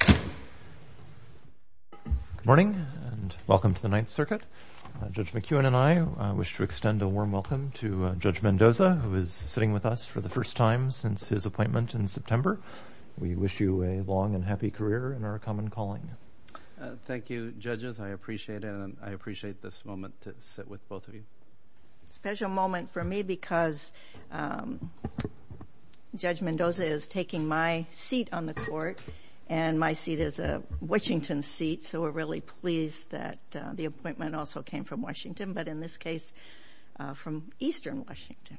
Good morning, and welcome to the Ninth Circuit. Judge McEwen and I wish to extend a warm welcome to Judge Mendoza, who is sitting with us for the first time since his appointment in September. We wish you a long and happy career in our common calling. Thank you, judges. I appreciate it, and I appreciate this moment to sit with both of you. It's a special moment for me because Judge Mendoza is taking my seat on the court, and my seat is a Washington seat, so we're really pleased that the appointment also came from Washington, but in this case, from eastern Washington.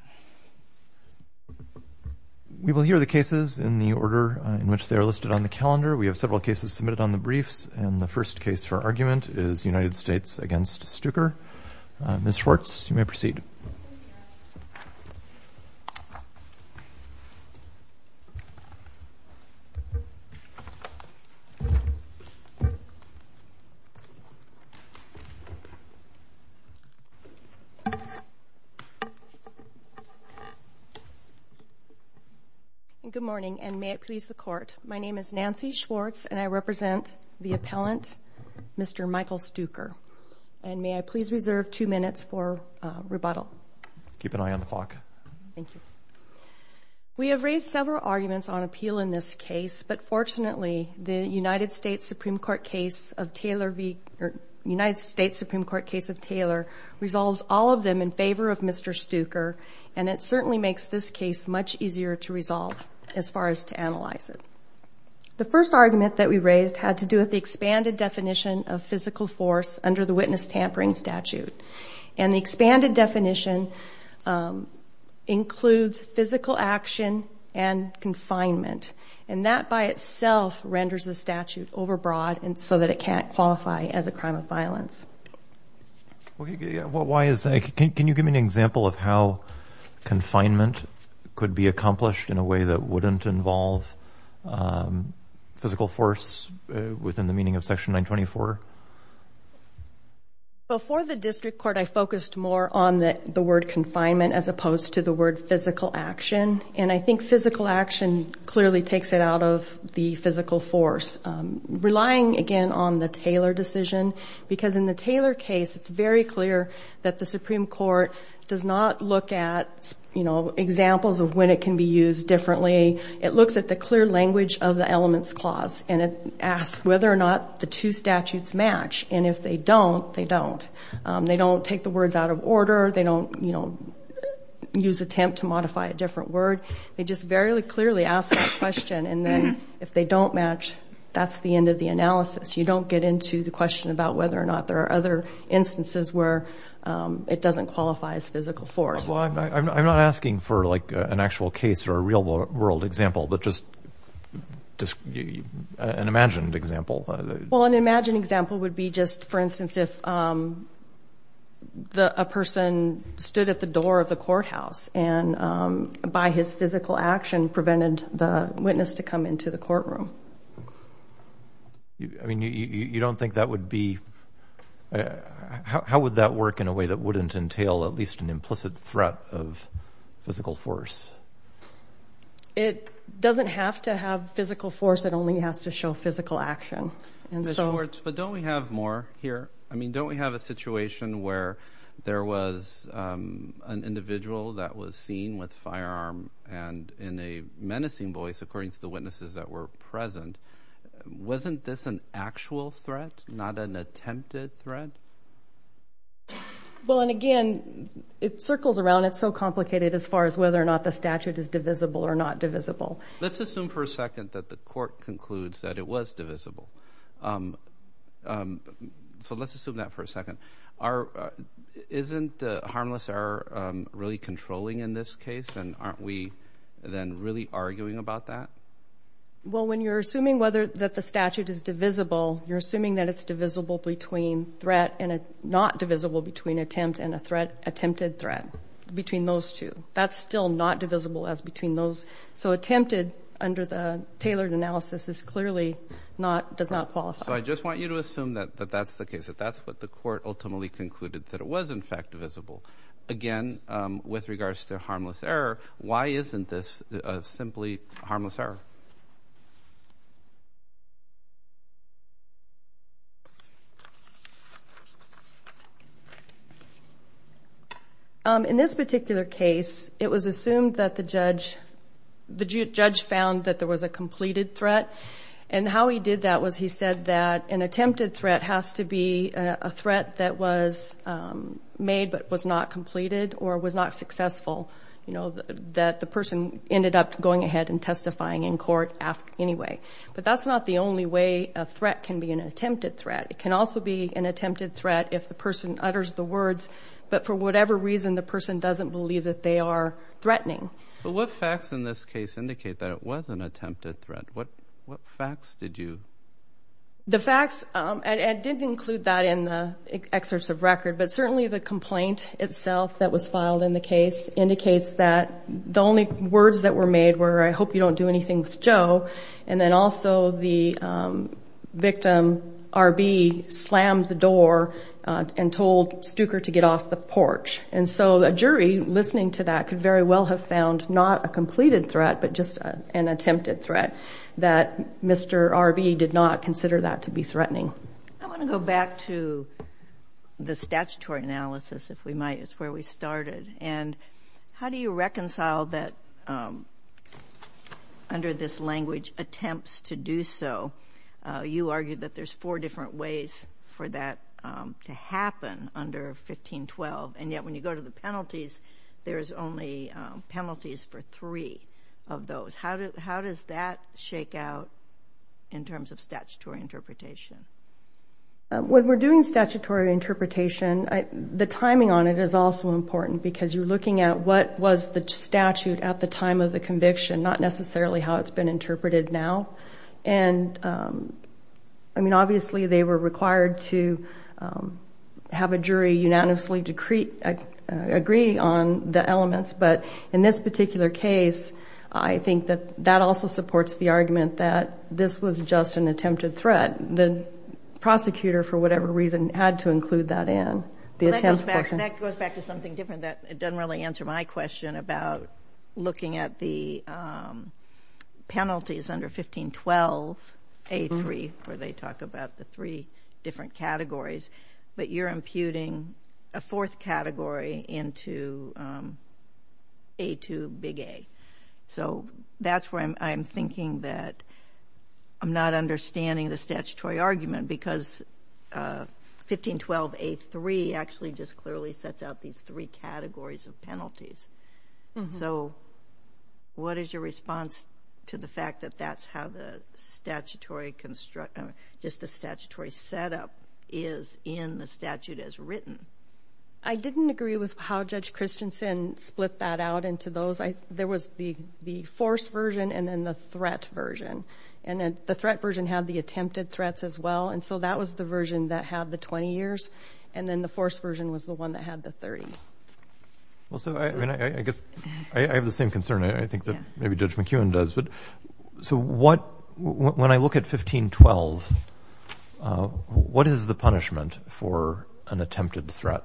We will hear the cases in the order in which they are listed on the calendar. We have several cases submitted on the briefs, and the first case for argument is United States v. Stuker. Ms. Schwartz, you may proceed. Good morning, and may it please the Court, my name is Nancy Schwartz, and I represent the appellant, Mr. Michael Stuker, and may I please reserve two minutes for rebuttal? Keep an eye on the clock. We have raised several arguments on appeal in this case, but fortunately, the United States Supreme Court case of Taylor resolves all of them in favor of Mr. Stuker, and it certainly makes this case much easier to resolve as far as to analyze it. The first argument that we raised had to do with the expanded definition of physical force under the witness tampering statute, and the expanded definition includes physical action and confinement, and that by itself renders the statute overbroad so that it can't qualify as a crime of violence. Why is that? Can you give me an example of how confinement could be accomplished in a physical force within the meaning of Section 924? Before the district court, I focused more on the word confinement as opposed to the word physical action, and I think physical action clearly takes it out of the physical force, relying again on the Taylor decision, because in the Taylor case, it's very clear that the Supreme Court does not look at, you know, examples of when it can be used differently. It looks at the clear language of the elements clause, and it asks whether or not the two statutes match, and if they don't, they don't. They don't take the words out of order. They don't, you know, use attempt to modify a different word. They just very clearly ask that question, and then if they don't match, that's the end of the analysis. You don't get into the question about whether or not there are other instances where it doesn't qualify as physical force. Well, I'm not asking for, like, an actual case or a real-world example, but just an imagined example. Well, an imagined example would be just, for instance, if a person stood at the door of the courthouse and by his physical action prevented the witness to come into the courtroom. I mean, you don't think that would be—how would that work in a way that wouldn't entail at least an implicit threat of physical force? It doesn't have to have physical force. It only has to show physical action, and so— Ms. Schwartz, but don't we have more here? I mean, don't we have a situation where there was an individual that was seen with a firearm and in a menacing voice, according to the witnesses that were present? Wasn't this an actual threat, not an attempted threat? Well, and again, it circles around. It's so complicated as far as whether or not the statute is divisible or not divisible. Let's assume for a second that the court concludes that it was divisible. So let's assume that for a second. Isn't harmless error really controlling in this case, and aren't we then really arguing about that? Well, when you're assuming that the statute is divisible, you're assuming that it's divisible between threat and—not divisible between attempt and attempted threat, between those two. That's still not divisible as between those. So attempted, under the tailored analysis, is clearly not—does not qualify. So I just want you to assume that that's the case, that that's what the court ultimately concluded, that it was, in fact, divisible. Again, with regards to harmless error, why isn't this simply harmless error? In this particular case, it was assumed that the judge—the judge found that there was a completed threat, and how he did that was he said that an attempted threat has to be a threat that was made but was not completed or was not successful, you know, that the person ended up going ahead and testifying in court anyway. But that's not the only way a threat can be an attempted threat. It can also be an attempted threat if the person utters the words, but for whatever reason, the person doesn't believe that they are threatening. But what facts in this case indicate that it was an attempted threat? What facts did you— The facts—and I didn't include that in the excerpts of record, but certainly the complaint itself that was filed in the case indicates that the only words that were made were, I hope you don't do anything with Joe. And then also the victim, R.B., slammed the door and told Stuecker to get off the porch. And so a jury, listening to that, could very well have found not a completed threat but just an attempted threat that Mr. R.B. did not consider that to be threatening. I want to go back to the statutory analysis, if we might. It's where we started. And how do you reconcile that, under this language, attempts to do so? You argued that there's four different ways for that to happen under 1512, and yet when you go to the penalties, there's only penalties for three of those. How does that shake out in terms of statutory interpretation? When we're doing statutory interpretation, the timing on it is also important because you're looking at what was the statute at the time of the conviction, not necessarily how it's been interpreted now. And, I mean, obviously they were required to have a jury unanimously agree on the elements, but in this particular case, I think that that also supports the argument that this was just an attempted threat. The prosecutor, for whatever reason, had to include that in. That goes back to something different. It doesn't really answer my question about looking at the penalties under 1512, A3, where they talk about the three different categories, but you're imputing a fourth category into A2, big A. That's where I'm thinking that I'm not understanding the statutory argument because 1512, A3, actually just clearly sets out these three categories of penalties. So what is your response to the fact that that's how the statutory setup is in the statute as written? I didn't agree with how Judge Christensen split that out into those. There was the forced version and then the threat version. And then the threat version had the attempted threats as well, and so that was the version that had the 20 years, and then the forced version was the one that had the 30. Well, so, I mean, I guess I have the same concern. I think that maybe Judge McEwen does. So when I look at 1512, what is the punishment for an attempted threat?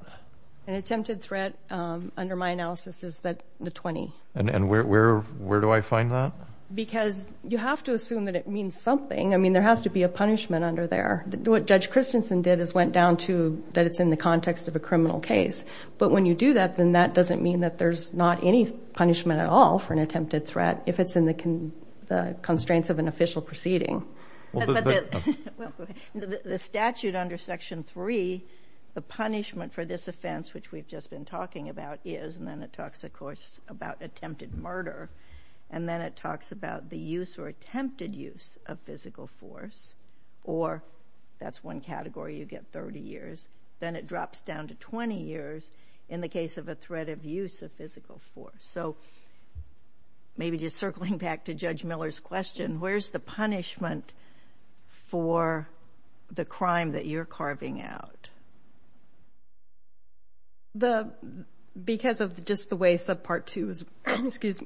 An attempted threat, under my analysis, is the 20. And where do I find that? Because you have to assume that it means something. I mean, there has to be a punishment under there. What Judge Christensen did is went down to that it's in the context of a criminal case, but when you do that, then that doesn't mean that there's not any punishment at all for an attempted threat if it's in the constraints of an official proceeding. The statute under Section 3, the punishment for this offense, which we've just been talking about, is, and then it talks, of course, about attempted murder, and then it talks about the use or attempted use of physical force, or that's one category, you get 30 years. Then it drops down to 20 years in the case of a threat of use of physical force. So maybe just circling back to Judge Miller's question, where's the punishment for the crime that you're carving out? Because of just the way subpart 2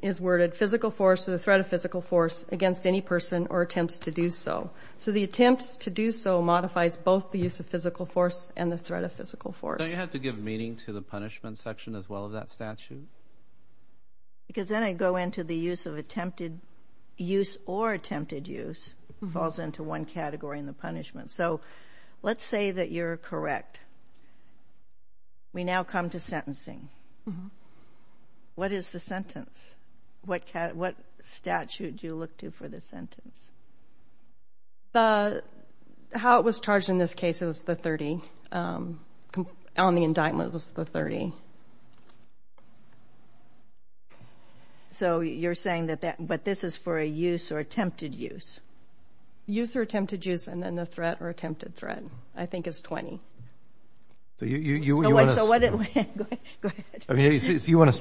is worded, physical force or the threat of physical force against any person or attempts to do so. So the attempts to do so modifies both the use of physical force and the threat of physical force. Don't you have to give meaning to the punishment section as well of that statute? Because then I go into the use of attempted use or attempted use falls into one category in the punishment. So let's say that you're correct. We now come to sentencing. What is the sentence? What statute do you look to for the sentence? How it was charged in this case, it was the 30. On the indictment, it was the 30. So you're saying that this is for a use or attempted use? Use or attempted use, and then the threat or attempted threat, I think is 20. So you want us to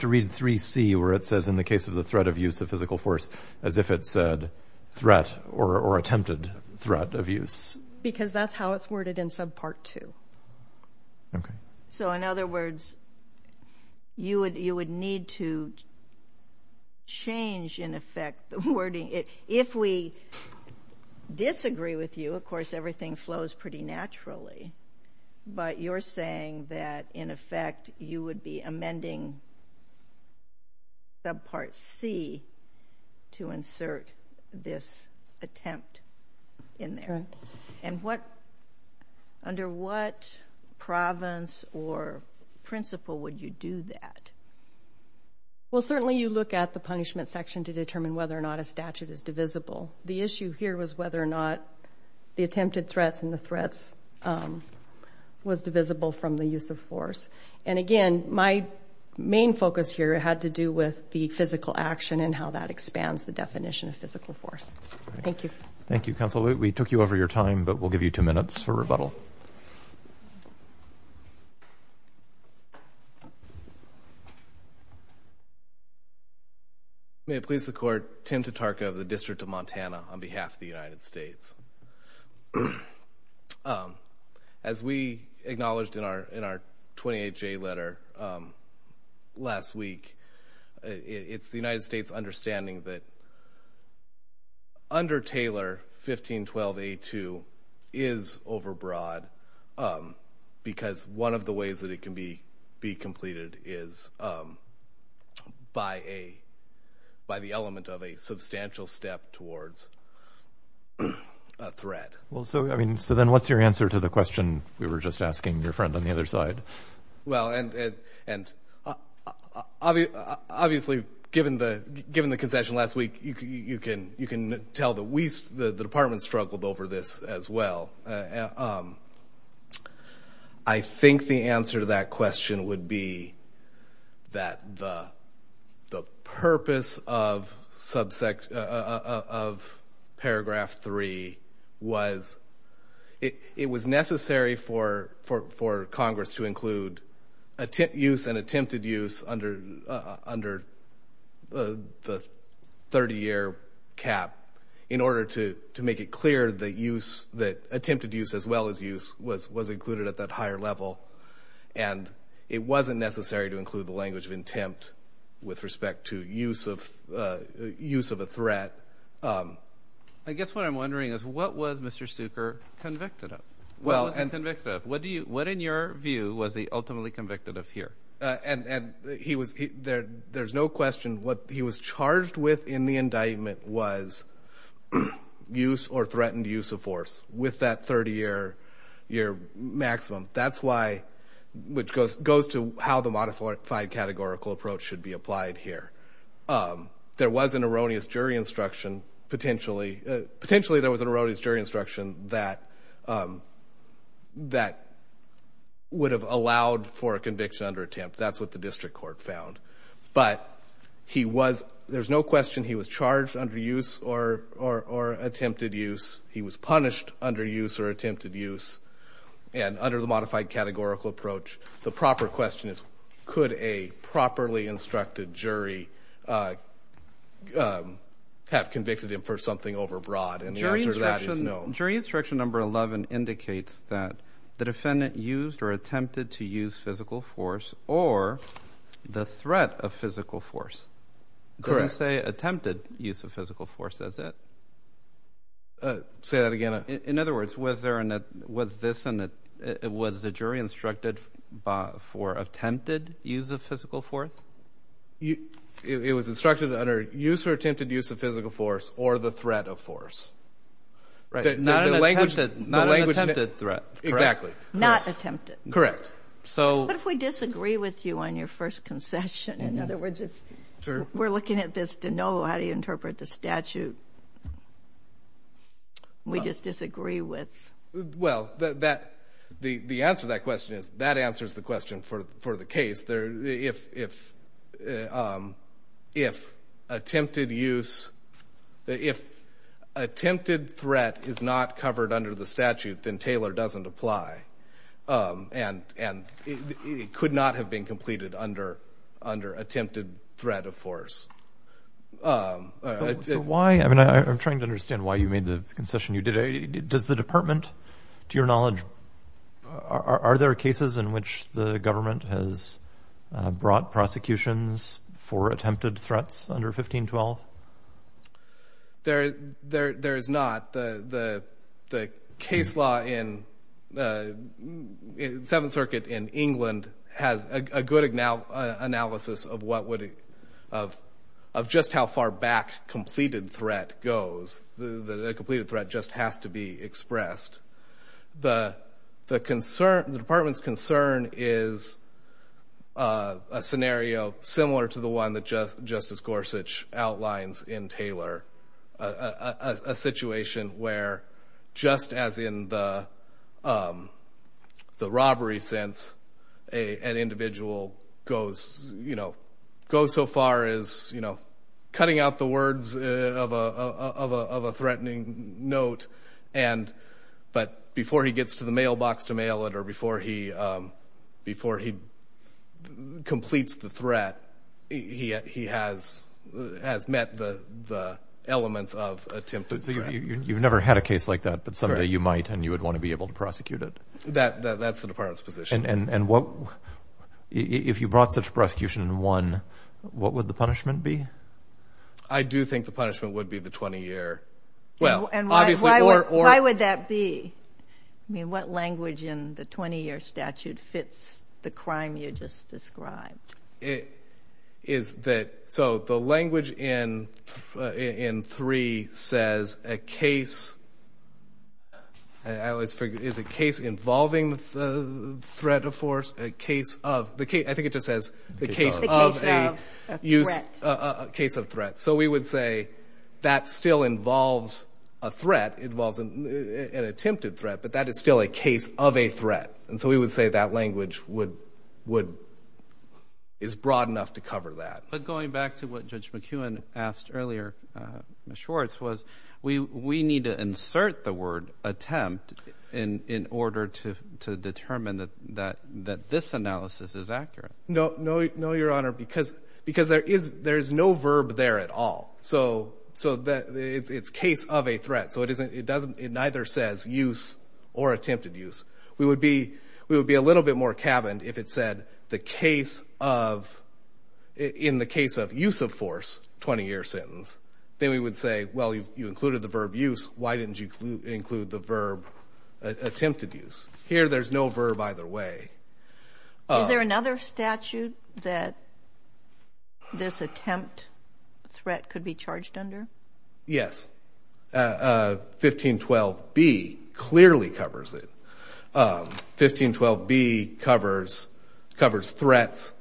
read 3C, where it says, in the case of the threat of use of physical force, as if it said threat or attempted threat of use. Because that's how it's worded in subpart 2. Okay. So in other words, you would need to change, in effect, the wording. If we disagree with you, of course, everything flows pretty naturally. But you're saying that, in effect, you would be amending subpart C to insert this attempt in there. And under what province or principle would you do that? Well, certainly you look at the punishment section to determine whether or not a statute is divisible. The issue here was whether or not the attempted threats and the threats was divisible from the use of force. And, again, my main focus here had to do with the physical action and how that expands the definition of physical force. Thank you. Thank you, Counsel. We took you over your time, but we'll give you two minutes for rebuttal. Thank you. May it please the Court, Tim Tatarka of the District of Montana on behalf of the United States. As we acknowledged in our 28J letter last week, it's the United States' understanding that under Taylor, 1512A2 is overbroad because one of the ways that it can be completed is by the element of a substantial step towards a threat. So then what's your answer to the question we were just asking your friend on the other side? Well, obviously, given the concession last week, you can tell that the Department struggled over this as well. I think the answer to that question would be that the purpose of Paragraph 3 was it was necessary for Congress to include use and attempted use under the 30-year cap in order to make it clear that attempted use as well as use was included at that higher level. And it wasn't necessary to include the language of intent with respect to use of a threat. I guess what I'm wondering is what was Mr. Stucker convicted of? What was he convicted of? What, in your view, was he ultimately convicted of here? And there's no question what he was charged with in the indictment was use or threatened use of force with that 30-year maximum. That's why, which goes to how the modified categorical approach should be applied here. There was an erroneous jury instruction, potentially. Potentially, there was an erroneous jury instruction that would have allowed for a conviction under attempt. That's what the district court found. But there's no question he was charged under use or attempted use. He was punished under use or attempted use. And under the modified categorical approach, the proper question is, could a properly instructed jury have convicted him for something overbroad? And the answer to that is no. Jury instruction number 11 indicates that the defendant used or attempted to use physical force or the threat of physical force. Correct. It doesn't say attempted use of physical force, does it? Say that again. In other words, was the jury instructed for attempted use of physical force? It was instructed under use or attempted use of physical force or the threat of force. Not an attempted threat. Exactly. Not attempted. Correct. What if we disagree with you on your first concession? In other words, if we're looking at this to know how to interpret the statute, we just disagree with? Well, the answer to that question is that answers the question for the case. If attempted threat is not covered under the statute, then Taylor doesn't apply. And it could not have been completed under attempted threat of force. So why? I mean, I'm trying to understand why you made the concession you did. Does the department, to your knowledge, are there cases in which the government has brought prosecutions for attempted threats under 1512? There is not. The case law in Seventh Circuit in England has a good analysis of just how far back completed threat goes, that a completed threat just has to be expressed. The department's concern is a scenario similar to the one that Justice Gorsuch outlines in Taylor, a situation where, just as in the robbery sense, an individual goes so far as cutting out the words of a threatening note, but before he gets to the mailbox to mail it or before he completes the threat, he has met the elements of attempted threat. So you've never had a case like that, but someday you might, and you would want to be able to prosecute it. That's the department's position. And if you brought such a prosecution in one, what would the punishment be? I do think the punishment would be the 20-year. Why would that be? I mean, what language in the 20-year statute fits the crime you just described? So the language in 3 says a case involving the threat of force, a case of, I think it just says a case of threat. So we would say that still involves a threat, involves an attempted threat, but that is still a case of a threat. And so we would say that language is broad enough to cover that. But going back to what Judge McEwen asked earlier, Ms. Schwartz, was we need to insert the word attempt in order to determine that this analysis is accurate. No, Your Honor, because there is no verb there at all. So it's case of a threat. So it doesn't, it neither says use or attempted use. We would be a little bit more caverned if it said the case of, in the case of use of force, 20-year sentence. Then we would say, well, you included the verb use. Why didn't you include the verb attempted use? Here there's no verb either way. Is there another statute that this attempt threat could be charged under? Yes. 1512B clearly covers it. 1512B covers threats.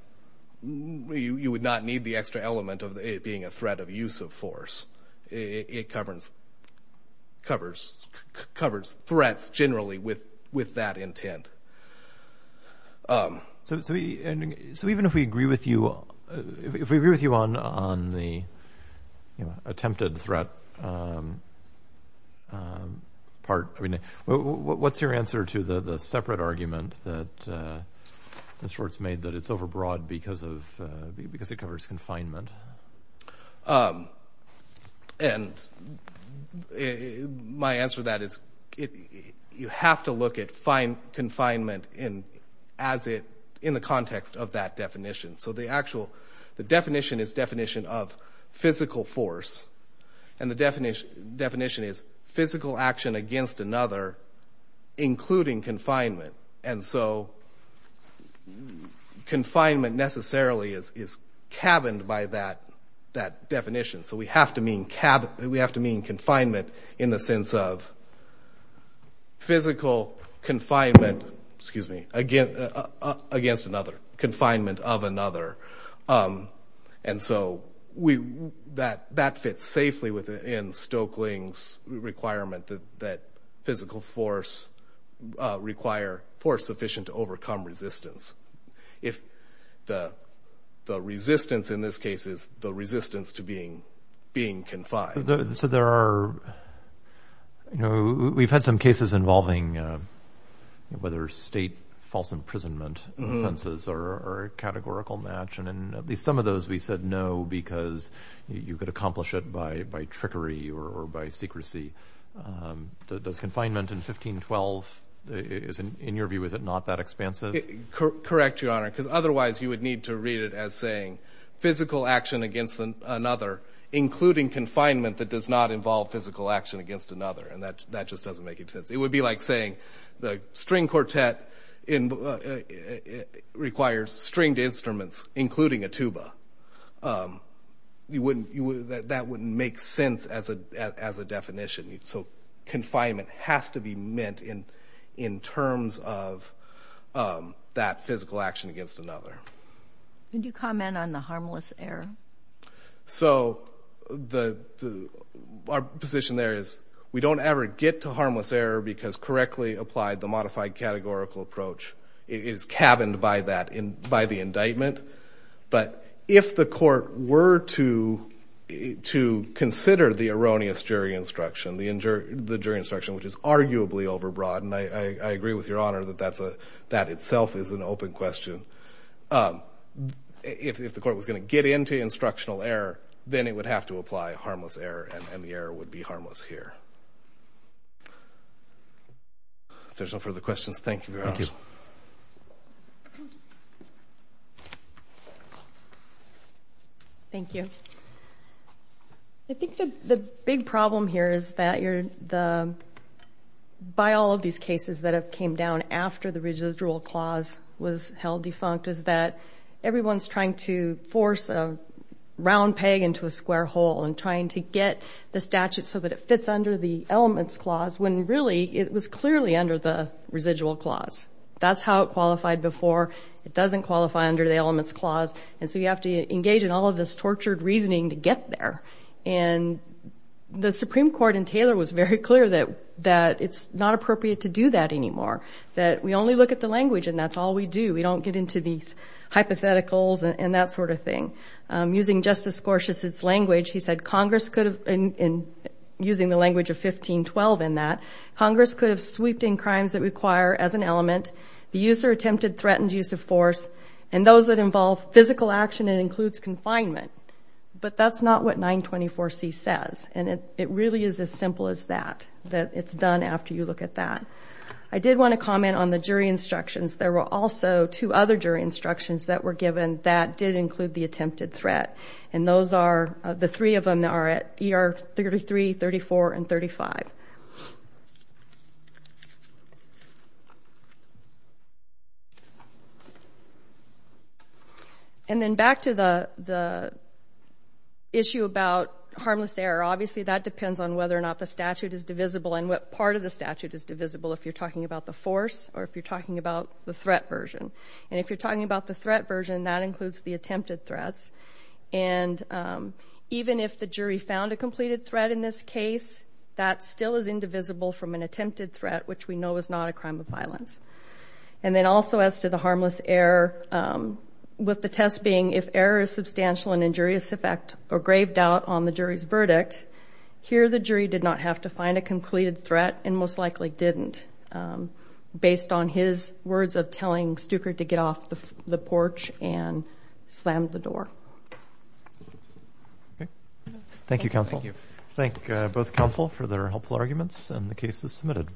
You would not need the extra element of it being a threat of use of force. It covers threats generally with that intent. So even if we agree with you on the attempted threat part, what's your answer to the separate argument that Ms. Schwartz made that it's overbroad because it covers confinement? And my answer to that is you have to look at confinement in the context of that definition. So the actual, the definition is definition of physical force. And the definition is physical action against another, including confinement. And so confinement necessarily is caverned by that definition. So we have to mean confinement in the sense of physical confinement against another, confinement of another. And so that fits safely within Stokeling's requirement that physical force require force sufficient to overcome resistance. If the resistance in this case is the resistance to being confined. So there are, you know, we've had some cases involving whether state false imprisonment offenses are a categorical match. And in at least some of those we said no because you could accomplish it by trickery or by secrecy. Does confinement in 1512, in your view, is it not that expansive? Correct, Your Honor, because otherwise you would need to read it as saying physical action against another, including confinement that does not involve physical action against another. And that just doesn't make any sense. It would be like saying the string quartet requires stringed instruments, including a tuba. That wouldn't make sense as a definition. So confinement has to be meant in terms of that physical action against another. Could you comment on the harmless error? So our position there is we don't ever get to harmless error because correctly applied, the modified categorical approach is cabined by the indictment. But if the court were to consider the erroneous jury instruction, the jury instruction, which is arguably overbroad, and I agree with Your Honor that that itself is an open question. If the court was going to get into instructional error, then it would have to apply harmless error, and the error would be harmless here. If there's no further questions, thank you, Your Honor. Thank you. Thank you. I think that the big problem here is that by all of these cases that have came down after the residual clause was held defunct is that everyone's trying to force a round peg into a square hole and trying to get the statute so that it fits under the elements clause when really it was clearly under the residual clause. That's how it qualified before. It doesn't qualify under the elements clause. And so you have to engage in all of this tortured reasoning to get there. And the Supreme Court in Taylor was very clear that it's not appropriate to do that anymore, that we only look at the language and that's all we do. We don't get into these hypotheticals and that sort of thing. Using Justice Gorsuch's language, he said Congress could have, using the language of 1512 in that, Congress could have sweeped in crimes that require as an element the use or attempted threatened use of force and those that involve physical action and includes confinement. But that's not what 924C says, and it really is as simple as that, that it's done after you look at that. I did want to comment on the jury instructions. There were also two other jury instructions that were given that did include the attempted threat, and those are, the three of them are at ER 33, 34, and 35. And then back to the issue about harmless error. Obviously that depends on whether or not the statute is divisible and what part of the statute is divisible if you're talking about the force or if you're talking about the threat version. And if you're talking about the threat version, that includes the attempted threats. And even if the jury found a completed threat in this case, that still is indivisible from an attempted threat, which we know is not a crime of violence. And then also as to the harmless error, with the test being if error is substantial and injurious effect or grave doubt on the jury's verdict, here the jury did not have to find a completed threat and most likely didn't, based on his words of telling Stuker to get off the porch and slam the door. Thank you, counsel. Thank you. Thank both counsel for their helpful arguments, and the case is submitted.